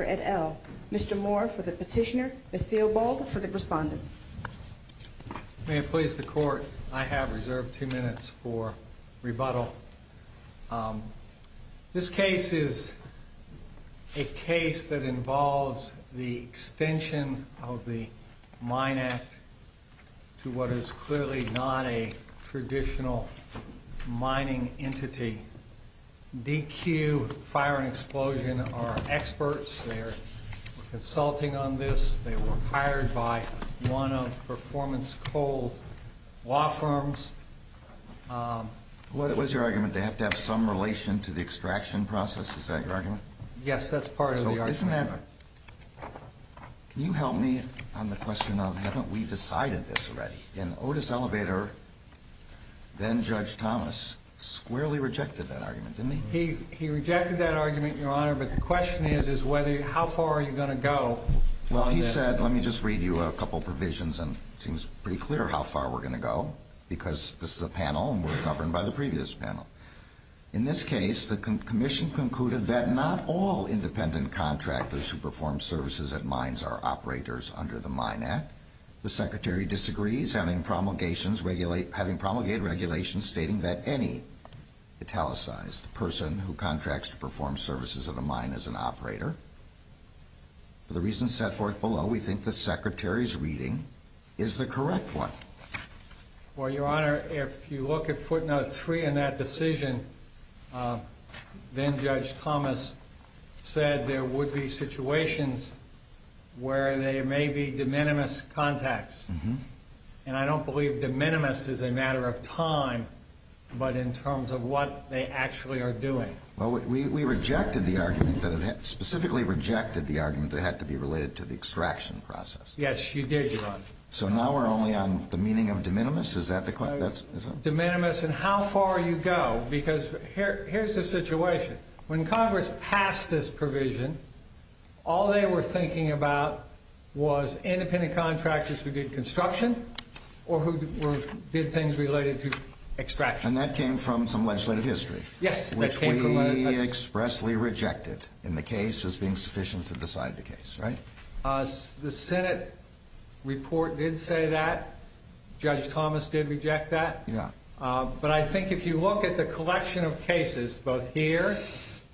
et al. Mr. Moore for the Petitioner, Ms. Theobald for the Respondent. May it please the Court, I have reserved two minutes for rebuttal. This case is a case that involves the extension of the Mine Act to what is clearly not a traditional mining entity. DQ Fire and Explosion are experts. They are consulting on this. They were hired by one of Performance Coal's law firms. What is your argument? They have to have some relation to the extraction process? Is that your argument? Yes, that's part of the argument. Your Honor, can you help me on the question of haven't we decided this already? Otis Elevator, then Judge Thomas, squarely rejected that argument, didn't he? He rejected that argument, Your Honor, but the question is how far are you going to go? Well, he said, let me just read you a couple provisions and it seems pretty clear how far we're going to go, because this is a panel and we're governed by the previous panel. In this case, the Commission concluded that not all independent contractors who perform services at mines are operators under the Mine Act. The Secretary disagrees, having promulgated regulations stating that any italicized person who contracts to perform services at a mine is an operator. For the reasons set forth below, we think the Secretary's reading is the correct one. Well, Your Honor, if you look at footnote 3 in that decision, then Judge Thomas said there would be situations where there may be de minimis contacts. And I don't believe de minimis is a matter of time, but in terms of what they actually are doing. Well, we rejected the argument, specifically rejected the argument that it had to be related to the extraction process. So now we're only on the meaning of de minimis? Is that the question? De minimis and how far you go, because here's the situation. When Congress passed this provision, all they were thinking about was independent contractors who did construction or who did things related to extraction. And that came from some legislative history. Yes. Which we expressly rejected in the case as being sufficient to decide the case, right? The Senate report did say that. Judge Thomas did reject that. Yeah. But I think if you look at the collection of cases, both here,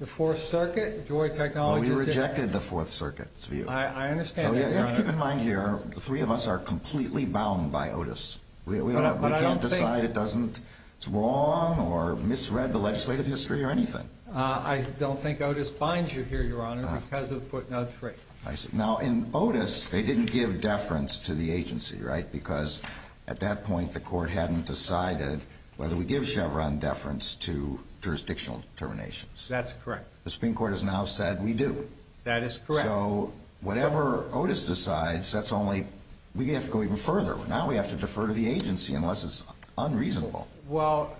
the Fourth Circuit, Joy Technologies. We rejected the Fourth Circuit's view. I understand. Keep in mind here, the three of us are completely bound by Otis. We can't decide it's wrong or misread the legislative history or anything. I don't think Otis binds you here, Your Honor, because of footnote 3. I see. Now, in Otis, they didn't give deference to the agency, right? Because at that point, the court hadn't decided whether we give Chevron deference to jurisdictional determinations. That's correct. The Supreme Court has now said we do. That is correct. So whatever Otis decides, that's only—we have to go even further. Now we have to defer to the agency unless it's unreasonable. Well,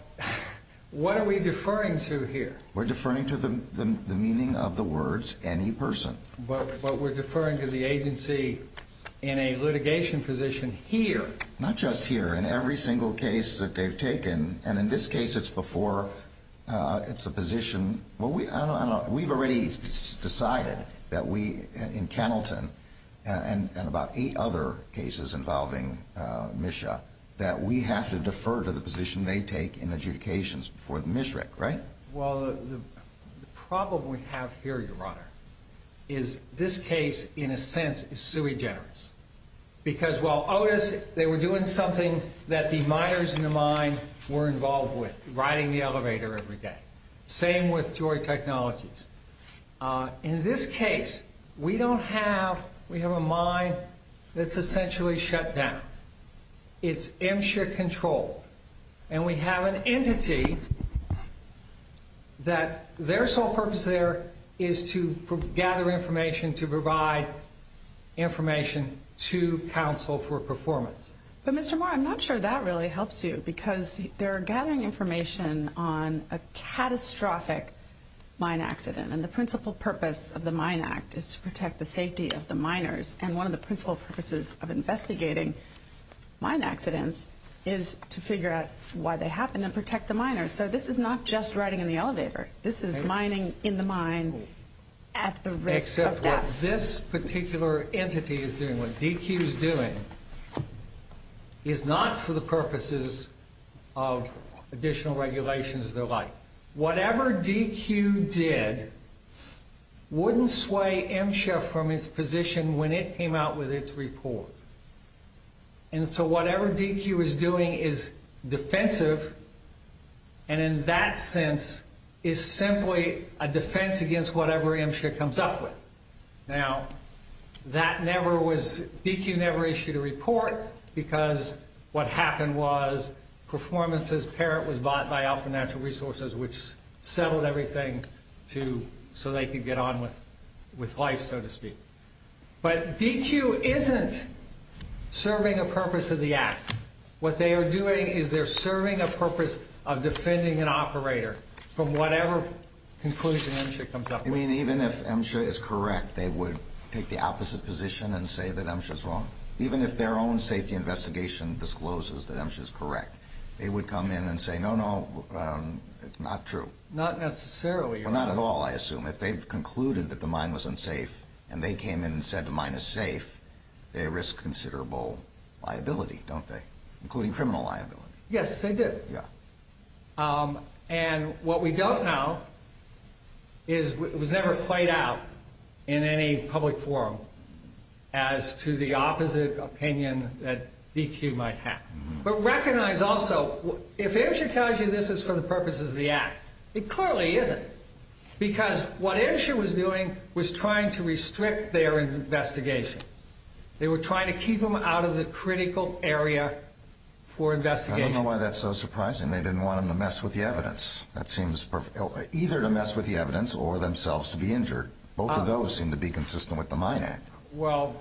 what are we deferring to here? We're deferring to the meaning of the words, any person. But we're deferring to the agency in a litigation position here. Not just here. In every single case that they've taken, and in this case it's before—it's a position— I don't know. We've already decided that we, in Kenilton and about eight other cases involving MSHA, that we have to defer to the position they take in adjudications before the MSHRAC, right? Well, the problem we have here, Your Honor, is this case, in a sense, is sui generis. Because while Otis—they were doing something that the miners in the mine were involved with, riding the elevator every day. Same with Joy Technologies. In this case, we don't have—we have a mine that's essentially shut down. It's MSHRAC-controlled. And we have an entity that their sole purpose there is to gather information, to provide information to counsel for performance. But, Mr. Moore, I'm not sure that really helps you. Because they're gathering information on a catastrophic mine accident. And the principal purpose of the Mine Act is to protect the safety of the miners. And one of the principal purposes of investigating mine accidents is to figure out why they happen and protect the miners. So this is not just riding in the elevator. This is mining in the mine at the risk of death. Except what this particular entity is doing, what DQ is doing, is not for the purposes of additional regulations of their life. Now, whatever DQ did wouldn't sway MSHRAC from its position when it came out with its report. And so whatever DQ is doing is defensive, and in that sense is simply a defense against whatever MSHRAC comes up with. Now, that never was—DQ never issued a report, because what happened was performance as parent was bought by Alpha Natural Resources, which settled everything so they could get on with life, so to speak. But DQ isn't serving a purpose of the act. What they are doing is they're serving a purpose of defending an operator from whatever conclusion MSHRAC comes up with. I mean, even if MSHRAC is correct, they would take the opposite position and say that MSHRAC is wrong. Even if their own safety investigation discloses that MSHRAC is correct, they would come in and say, no, no, it's not true. Not necessarily. Well, not at all, I assume. If they've concluded that the mine was unsafe and they came in and said the mine is safe, they risk considerable liability, don't they, including criminal liability? Yes, they do. Yeah. And what we don't know is it was never played out in any public forum as to the opposite opinion that DQ might have. But recognize also, if MSHRAC tells you this is for the purposes of the act, it clearly isn't, because what MSHRAC was doing was trying to restrict their investigation. They were trying to keep them out of the critical area for investigation. I don't know why that's so surprising. They didn't want them to mess with the evidence. That seems either to mess with the evidence or themselves to be injured. Both of those seem to be consistent with the Mine Act. Well,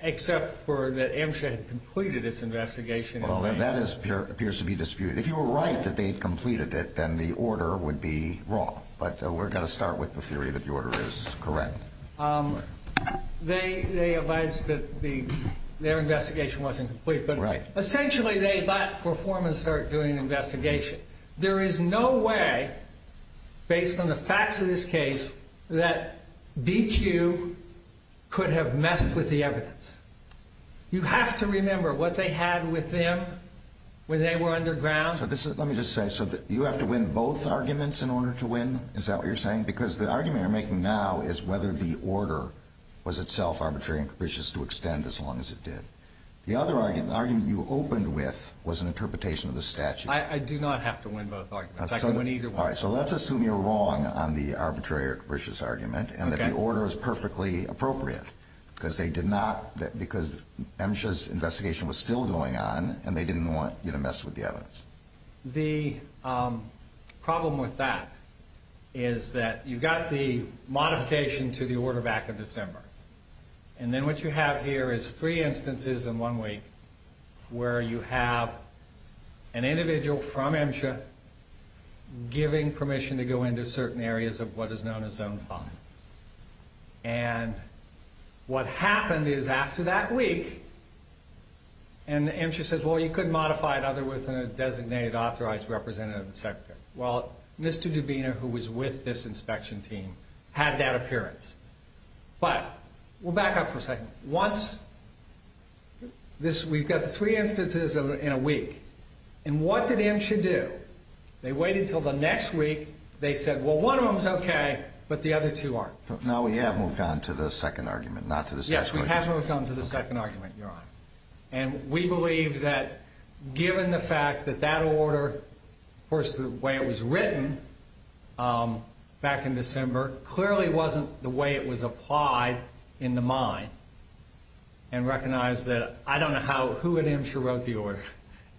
except for that MSHRAC had completed its investigation. Well, that appears to be disputed. If you were right that they'd completed it, then the order would be wrong. But we're going to start with the theory that the order is correct. They advised that their investigation wasn't complete, but essentially they might perform and start doing an investigation. There is no way, based on the facts of this case, that DQ could have messed with the evidence. You have to remember what they had with them when they were underground. Let me just say, so you have to win both arguments in order to win? Is that what you're saying? Because the argument you're making now is whether the order was itself arbitrary and capricious to extend as long as it did. The other argument you opened with was an interpretation of the statute. I do not have to win both arguments. I can win either one. All right, so let's assume you're wrong on the arbitrary or capricious argument and that the order is perfectly appropriate because MSHRAC's investigation was still going on and they didn't want you to mess with the evidence. The problem with that is that you've got the modification to the order back in December, and then what you have here is three instances in one week where you have an individual from MSHRAC giving permission to go into certain areas of what is known as Zone 5. And what happened is after that week, and MSHRAC says, well, you couldn't modify it other than with a designated authorized representative of the sector. Well, Mr. Dubina, who was with this inspection team, had that appearance. But we'll back up for a second. Once we've got three instances in a week, and what did MSHRAC do? They waited until the next week. They said, well, one of them is okay, but the other two aren't. Now we have moved on to the second argument, not to the statute. Yes, we have moved on to the second argument, Your Honor. And we believe that given the fact that that order, of course, the way it was written back in December, clearly wasn't the way it was applied in the mine, and recognize that I don't know who at MSHRAC wrote the order,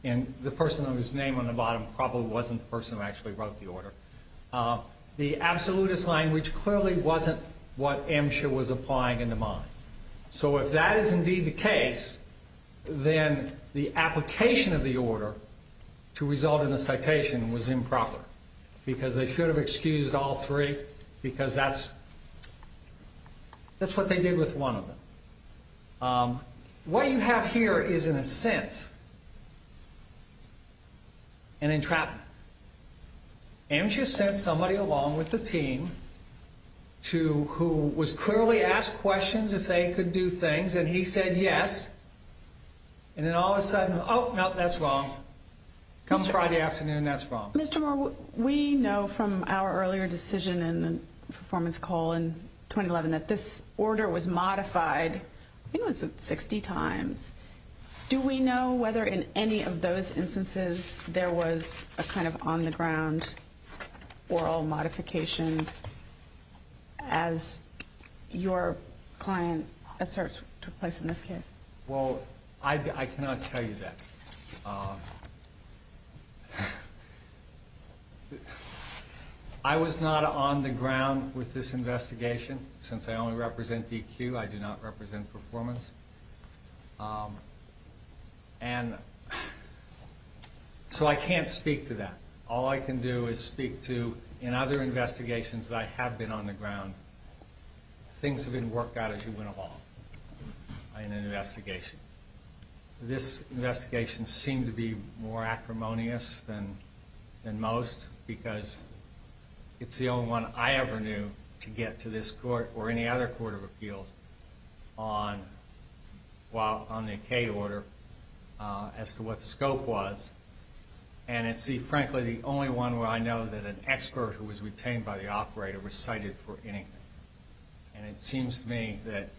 and the person whose name on the bottom probably wasn't the person who actually wrote the order. The absolutist language clearly wasn't what MSHRAC was applying in the mine. So if that is indeed the case, then the application of the order to result in a citation was improper because they should have excused all three because that's what they did with one of them. What you have here is, in a sense, an entrapment. MSHRAC sent somebody along with the team who was clearly asked questions if they could do things, and he said yes. And then all of a sudden, oh, no, that's wrong. Comes Friday afternoon, that's wrong. Mr. Moore, we know from our earlier decision in the performance call in 2011 that this order was modified, I think it was 60 times. Do we know whether in any of those instances there was a kind of on-the-ground oral modification, as your client asserts took place in this case? Well, I cannot tell you that. I was not on the ground with this investigation. Since I only represent DQ, I do not represent performance. So I can't speak to that. All I can do is speak to, in other investigations that I have been on the ground, things have been worked out as you went along in an investigation. This investigation seemed to be more acrimonious than most because it's the only one I ever knew to get to this court or any other court of appeals on the O.K. order as to what the scope was. And it's, frankly, the only one where I know that an expert who was retained by the operator was cited for anything. And it seems to me that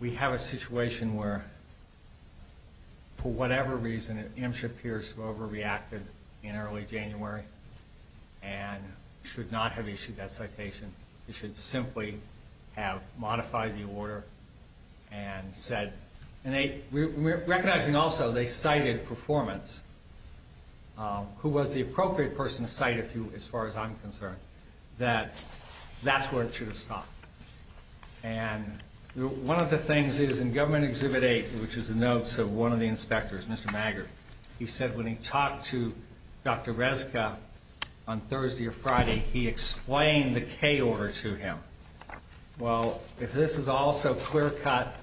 we have a situation where, for whatever reason, MSHA peers have overreacted in early January and should not have issued that citation. They should simply have modified the order and said, and recognizing also they cited performance, who was the appropriate person to cite, as far as I'm concerned, that that's where it should have stopped. And one of the things is in Government Exhibit 8, which is the notes of one of the inspectors, Mr. Maggard, he said when he talked to Dr. Rezka on Thursday or Friday, he explained the K order to him. Well, if this is also clear-cut,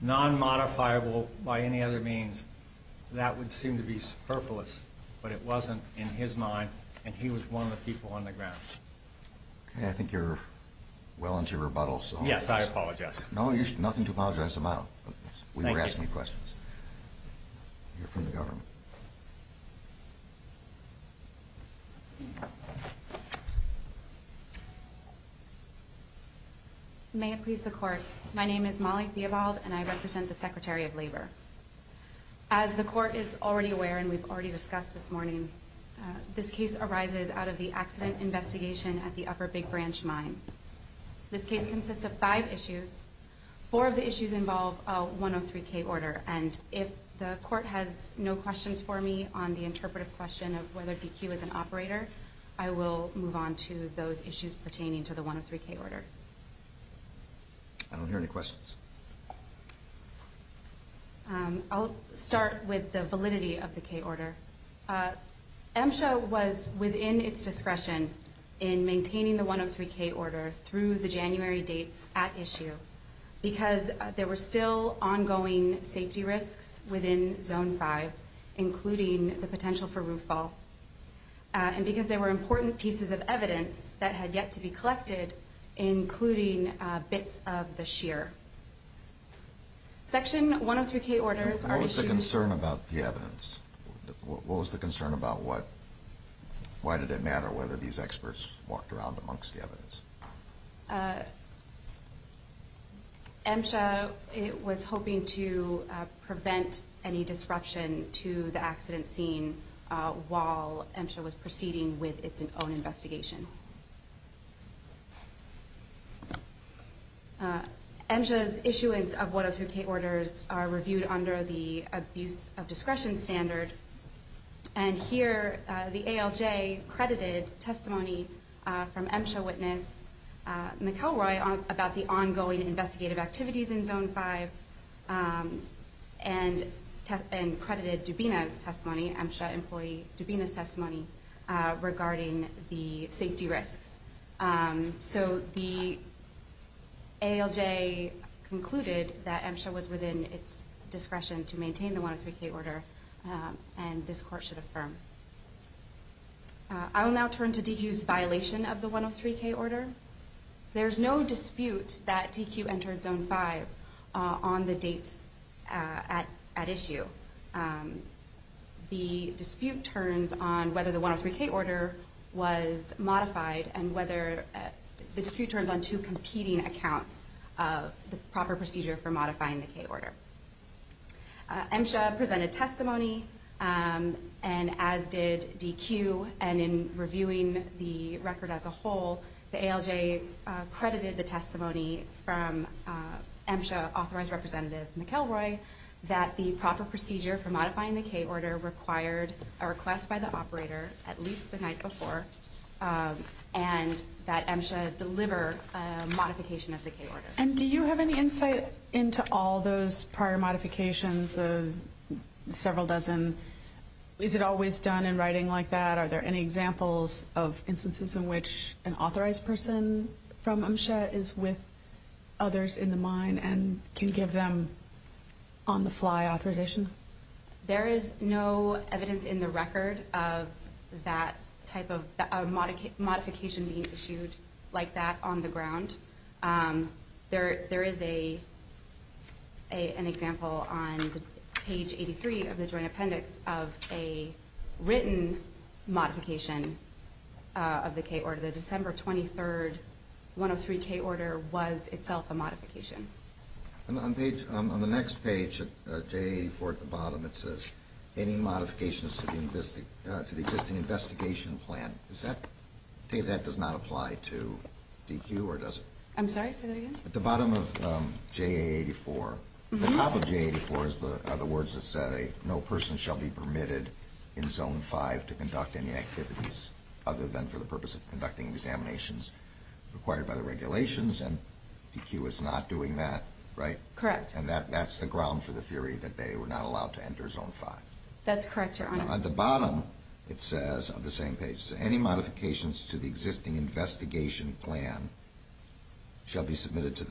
non-modifiable by any other means, that would seem to be superfluous. But it wasn't in his mind, and he was one of the people on the ground. Okay. I think you're well into your rebuttals. Yes, I apologize. No, there's nothing to apologize about. Thank you. Any questions? We'll hear from the government. May it please the Court, my name is Molly Theobald, and I represent the Secretary of Labor. As the Court is already aware and we've already discussed this morning, this case arises out of the accident investigation at the Upper Big Branch Mine. This case consists of five issues. Four of the issues involve a 103-K order, and if the Court has no questions for me on the interpretive question of whether DQ is an operator, I will move on to those issues pertaining to the 103-K order. I don't hear any questions. I'll start with the validity of the K order. MSHA was within its discretion in maintaining the 103-K order through the January dates at issue because there were still ongoing safety risks within Zone 5, including the potential for roof fall, and because there were important pieces of evidence that had yet to be collected, including bits of the shear. Section 103-K orders are issued... What was the concern about the evidence? What was the concern about what? Why did it matter whether these experts walked around amongst the evidence? MSHA was hoping to prevent any disruption to the accident scene while MSHA was proceeding with its own investigation. MSHA's issuance of 103-K orders are reviewed under the abuse of discretion standard, and here the ALJ credited testimony from MSHA witness McElroy about the ongoing investigative activities in Zone 5 and credited Dubina's testimony, MSHA employee Dubina's testimony, regarding the safety risks. So the ALJ concluded that MSHA was within its discretion to maintain the 103-K order, and this court should affirm. I will now turn to DQ's violation of the 103-K order. There's no dispute that DQ entered Zone 5 on the dates at issue. The dispute turns on whether the 103-K order was modified, and whether the dispute turns on two competing accounts of the proper procedure for modifying the K order. MSHA presented testimony, and as did DQ, and in reviewing the record as a whole, the ALJ credited the testimony from MSHA authorized representative McElroy that the proper procedure for modifying the K order required a request by the operator at least the night before, and that MSHA deliver a modification of the K order. And do you have any insight into all those prior modifications, the several dozen? Is it always done in writing like that? Are there any examples of instances in which an authorized person from MSHA is with others in the mine and can give them on-the-fly authorization? There is no evidence in the record of that type of modification being issued like that on the ground. There is an example on page 83 of the joint appendix of a written modification of the K order. The December 23, 103-K order was itself a modification. On the next page, J84 at the bottom, it says, Any modifications to the existing investigation plan. Does that say that does not apply to DQ, or does it? I'm sorry, say that again? At the bottom of J84, the top of J84 are the words that say, No person shall be permitted in Zone 5 to conduct any activities other than for the purpose of conducting examinations required by the regulations, and DQ is not doing that, right? Correct. And that's the ground for the theory that they were not allowed to enter Zone 5. That's correct, Your Honor. On the bottom, it says on the same page, Any modifications to the existing investigation plan shall be submitted to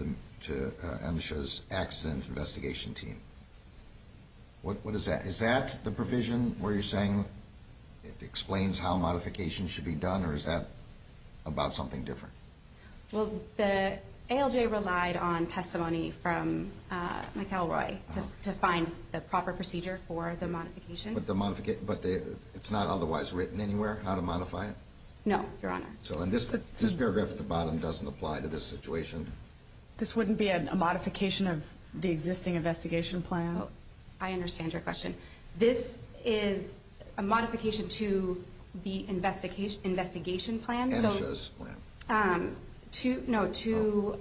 MSHA's accident investigation team. What is that? Is that the provision where you're saying it explains how modifications should be done, or is that about something different? Well, the ALJ relied on testimony from McElroy to find the proper procedure for the modification. But it's not otherwise written anywhere how to modify it? No, Your Honor. So this paragraph at the bottom doesn't apply to this situation? This wouldn't be a modification of the existing investigation plan? I understand your question. This is a modification to the investigation plan. No, to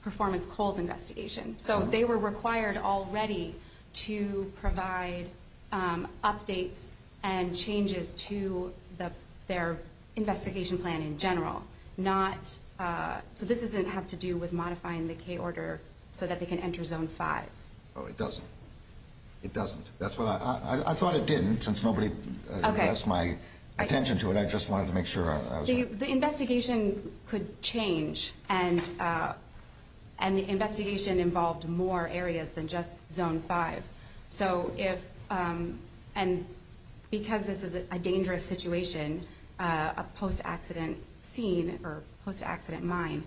Performance Cole's investigation. So they were required already to provide updates and changes to their investigation plan in general. So this doesn't have to do with modifying the K order so that they can enter Zone 5. Oh, it doesn't. It doesn't. I thought it didn't, since nobody addressed my attention to it. The investigation could change, and the investigation involved more areas than just Zone 5. And because this is a dangerous situation, a post-accident scene or post-accident mine,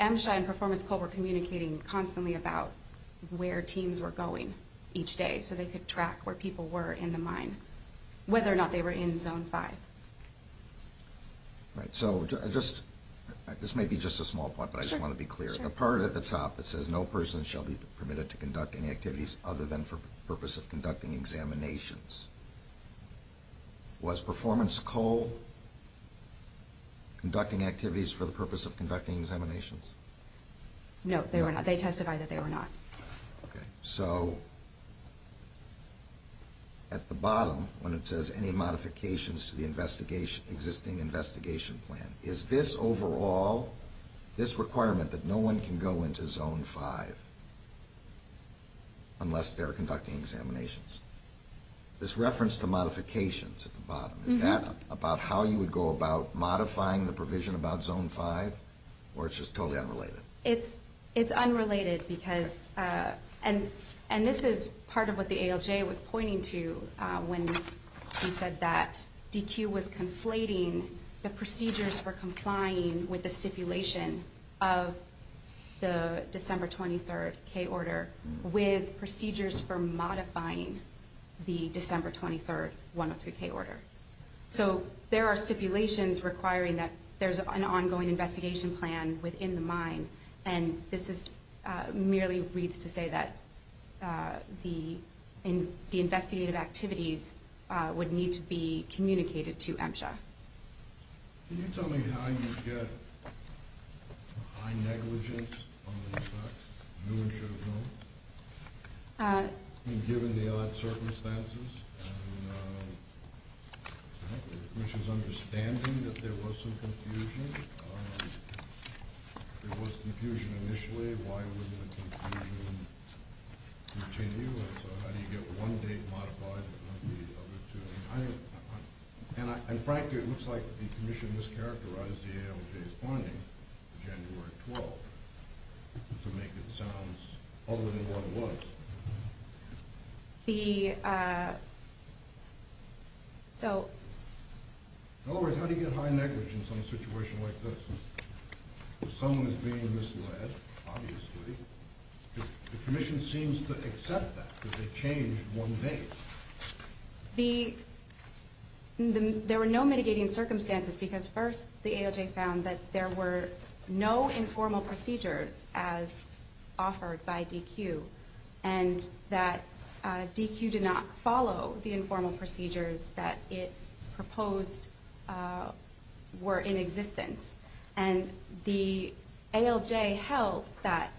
MSHA and Performance Cole were communicating constantly about where teams were going each day so they could track where people were in the mine, whether or not they were in Zone 5. So this may be just a small point, but I just want to be clear. The part at the top that says no person shall be permitted to conduct any activities other than for the purpose of conducting examinations, was Performance Cole conducting activities for the purpose of conducting examinations? No, they were not. They testified that they were not. So at the bottom, when it says any modifications to the existing investigation plan, is this overall this requirement that no one can go into Zone 5 unless they're conducting examinations? This reference to modifications at the bottom, is that about how you would go about modifying the provision about Zone 5, or it's just totally unrelated? It's unrelated because, and this is part of what the ALJ was pointing to when he said that DQ was conflating the procedures for complying with the stipulation of the December 23rd K Order with procedures for modifying the December 23rd 103 K Order. So there are stipulations requiring that there's an ongoing investigation plan within the mine, and this merely reads to say that the investigative activities would need to be communicated to MSHA. Can you tell me how you get high negligence on the fact that no one should have known? Given the odd circumstances, and the Commission's understanding that there was some confusion, there was confusion initially, why wouldn't the confusion continue? And so how do you get one date modified and not the other two? And frankly, it looks like the Commission mischaracterized the ALJ's finding, January 12th, to make it sound other than what it was. In other words, how do you get high negligence on a situation like this? If someone is being misled, obviously, the Commission seems to accept that, that they changed one date. There were no mitigating circumstances because first the ALJ found that there were no informal procedures as offered by DQ, and that DQ did not follow the informal procedures that it proposed were in existence. And the ALJ held that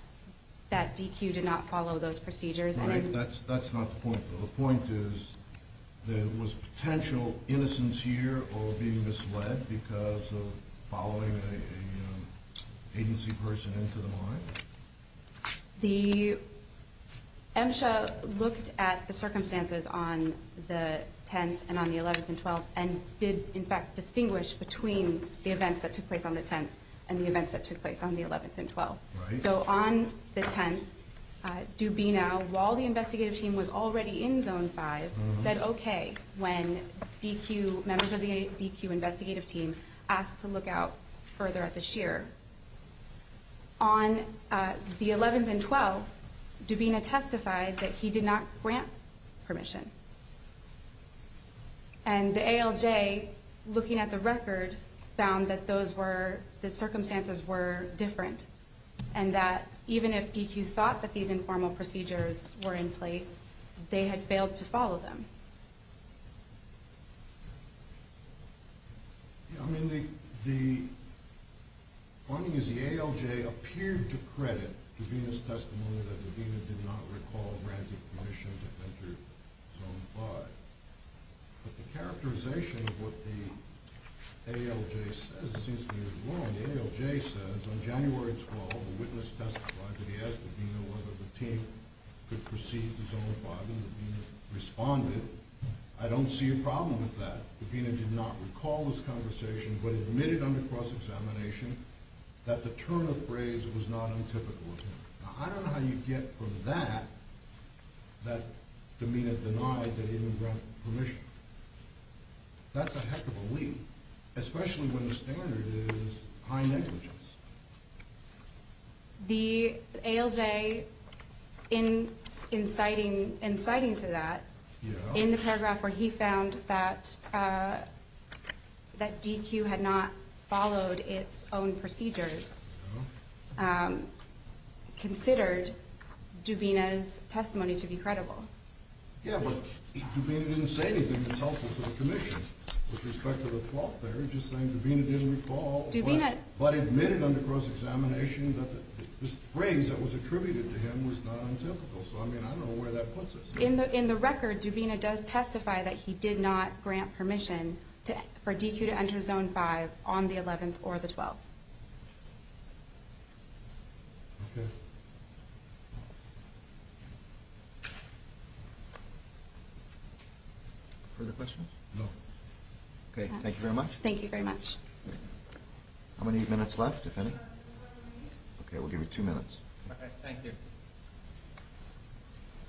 DQ did not follow those procedures. The point is there was potential innocence here or being misled because of following an agency person into the mine? MSHA looked at the circumstances on the 10th and on the 11th and 12th and did, in fact, distinguish between the events that took place on the 10th and the events that took place on the 11th and 12th. So on the 10th, Dubina, while the investigative team was already in Zone 5, said okay when DQ, members of the DQ investigative team, asked to look out further at the shear. On the 11th and 12th, Dubina testified that he did not grant permission. And the ALJ, looking at the record, found that those were, the circumstances were different and that even if DQ thought that these informal procedures were in place, they had failed to follow them. The point is the ALJ appeared to credit Dubina's testimony that Dubina did not recall granting permission to enter Zone 5. But the characterization of what the ALJ says seems to be wrong. The ALJ says on January 12, the witness testified that he asked Dubina whether the team could proceed to Zone 5 and Dubina responded, I don't see a problem with that. Dubina did not recall this conversation but admitted under cross-examination that the turn of phrase was not untypical of him. Now I don't know how you get from that that Dubina denied that he even granted permission. That's a heck of a leap, especially when the standard is high negligence. The ALJ, inciting to that, in the paragraph where he found that DQ had not followed its own procedures, considered Dubina's testimony to be credible. Yeah, but Dubina didn't say anything that's helpful to the commission with respect to the fault there. He's just saying Dubina didn't recall but admitted under cross-examination that this phrase that was attributed to him was not untypical. So I mean, I don't know where that puts us. In the record, Dubina does testify that he did not grant permission for DQ to enter Zone 5 on the 11th or the 12th. Further questions? No. Okay, thank you very much. Thank you very much. How many minutes left, if any? Okay, we'll give you two minutes. Thank you.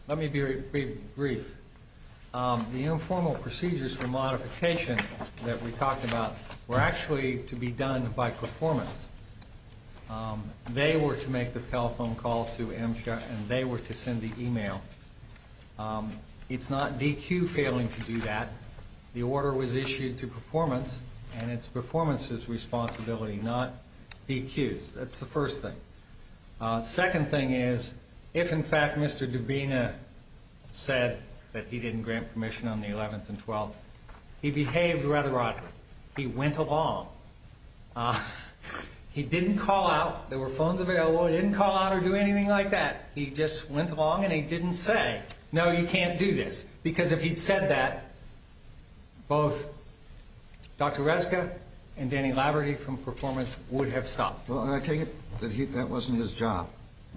Let me be brief. The informal procedures for modification that we talked about were actually to be done by performance. They were to make the telephone call to MSHA and they were to send the email. It's not DQ failing to do that. The order was issued to performance and it's performance's responsibility, not DQ's. That's the first thing. Second thing is, if in fact Mr. Dubina said that he didn't grant permission on the 11th and 12th, he behaved rather oddly. He went along. He didn't call out. There were phones available. He didn't call out or do anything like that. He just went along and he didn't say, no, you can't do this. Because if he'd said that, both Dr. Reska and Danny Laverty from performance would have stopped. Well, I take it that that wasn't his job,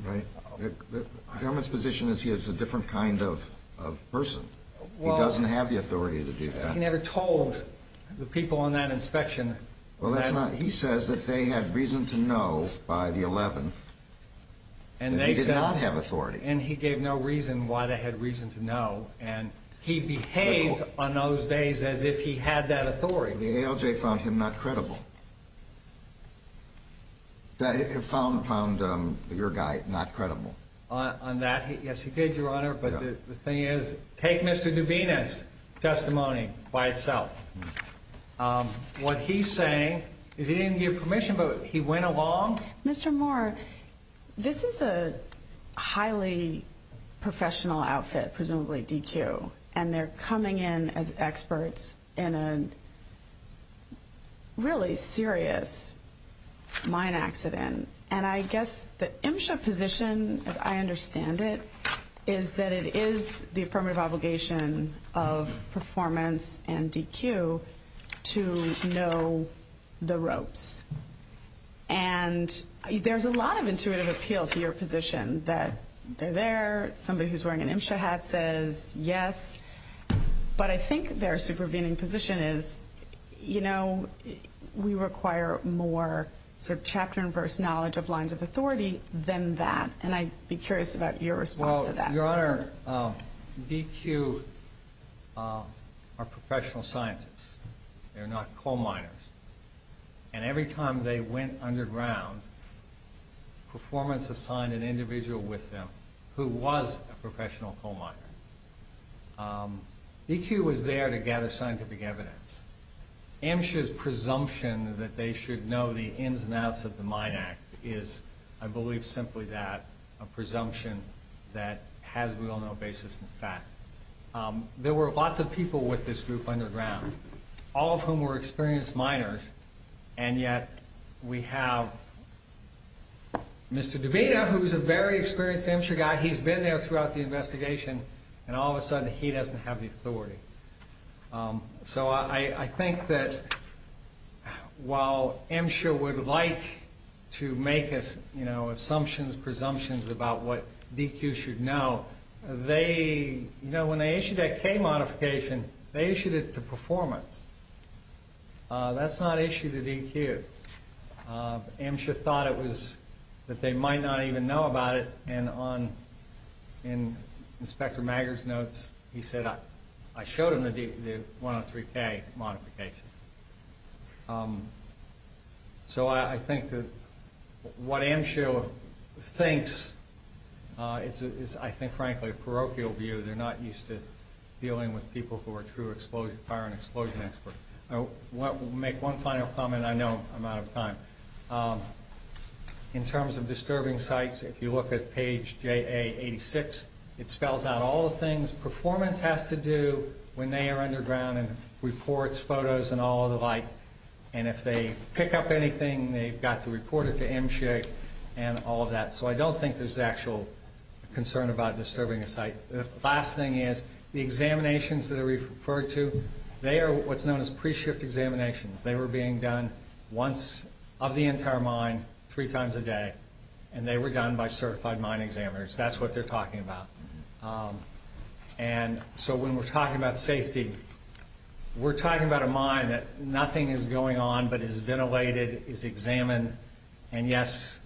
right? The government's position is he is a different kind of person. He doesn't have the authority to do that. He never told the people on that inspection. Well, he says that they had reason to know by the 11th that he did not have authority. And he gave no reason why they had reason to know. And he behaved on those days as if he had that authority. The ALJ found him not credible. Found your guy not credible. On that, yes, he did, Your Honor. But the thing is, take Mr. Dubinis' testimony by itself. What he's saying is he didn't give permission, but he went along. Mr. Moore, this is a highly professional outfit, presumably DQ. And they're coming in as experts in a really serious mine accident. And I guess the MSHA position, as I understand it, is that it is the affirmative obligation of performance and DQ to know the ropes. And there's a lot of intuitive appeal to your position that they're there. Somebody who's wearing an MSHA hat says yes. But I think their supervening position is, you know, we require more sort of chapter and verse knowledge of lines of authority than that. And I'd be curious about your response to that. Well, Your Honor, DQ are professional scientists. They're not coal miners. And every time they went underground, performance assigned an individual with them who was a professional coal miner. DQ was there to gather scientific evidence. MSHA's presumption that they should know the ins and outs of the Mine Act is, I believe, simply that, a presumption that has, we all know, basis in fact. There were lots of people with this group underground, all of whom were experienced miners. And yet we have Mr. Dubita, who's a very experienced MSHA guy. He's been there throughout the investigation. And all of a sudden, he doesn't have the authority. So I think that while MSHA would like to make us, you know, assumptions, presumptions about what DQ should know, they, you know, when they issued that K modification, they issued it to performance. That's not issued to DQ. MSHA thought it was, that they might not even know about it. And on Inspector Maggar's notes, he said, I showed him the 103K modification. So I think that what MSHA thinks is, I think, frankly, a parochial view. They're not used to dealing with people who are true fire and explosion experts. I'll make one final comment. I know I'm out of time. In terms of disturbing sites, if you look at page JA86, it spells out all the things performance has to do when they are underground and reports, photos, and all of the like. And if they pick up anything, they've got to report it to MSHA and all of that. So I don't think there's actual concern about disturbing a site. The last thing is, the examinations that are referred to, they are what's known as pre-shift examinations. They were being done once of the entire mine, three times a day. And they were done by certified mine examiners. That's what they're talking about. And so when we're talking about safety, we're talking about a mine that nothing is going on but is ventilated, is examined. And, yes,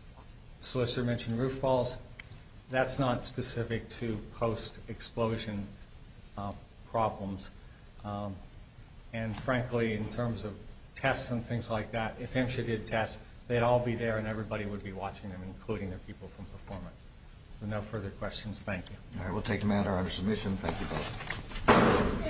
solicitor mentioned roof falls. That's not specific to post-explosion problems. And, frankly, in terms of tests and things like that, if MSHA did tests, they'd all be there and everybody would be watching them, including the people from performance. So no further questions. Thank you. All right. We'll take a matter under submission. Thank you both.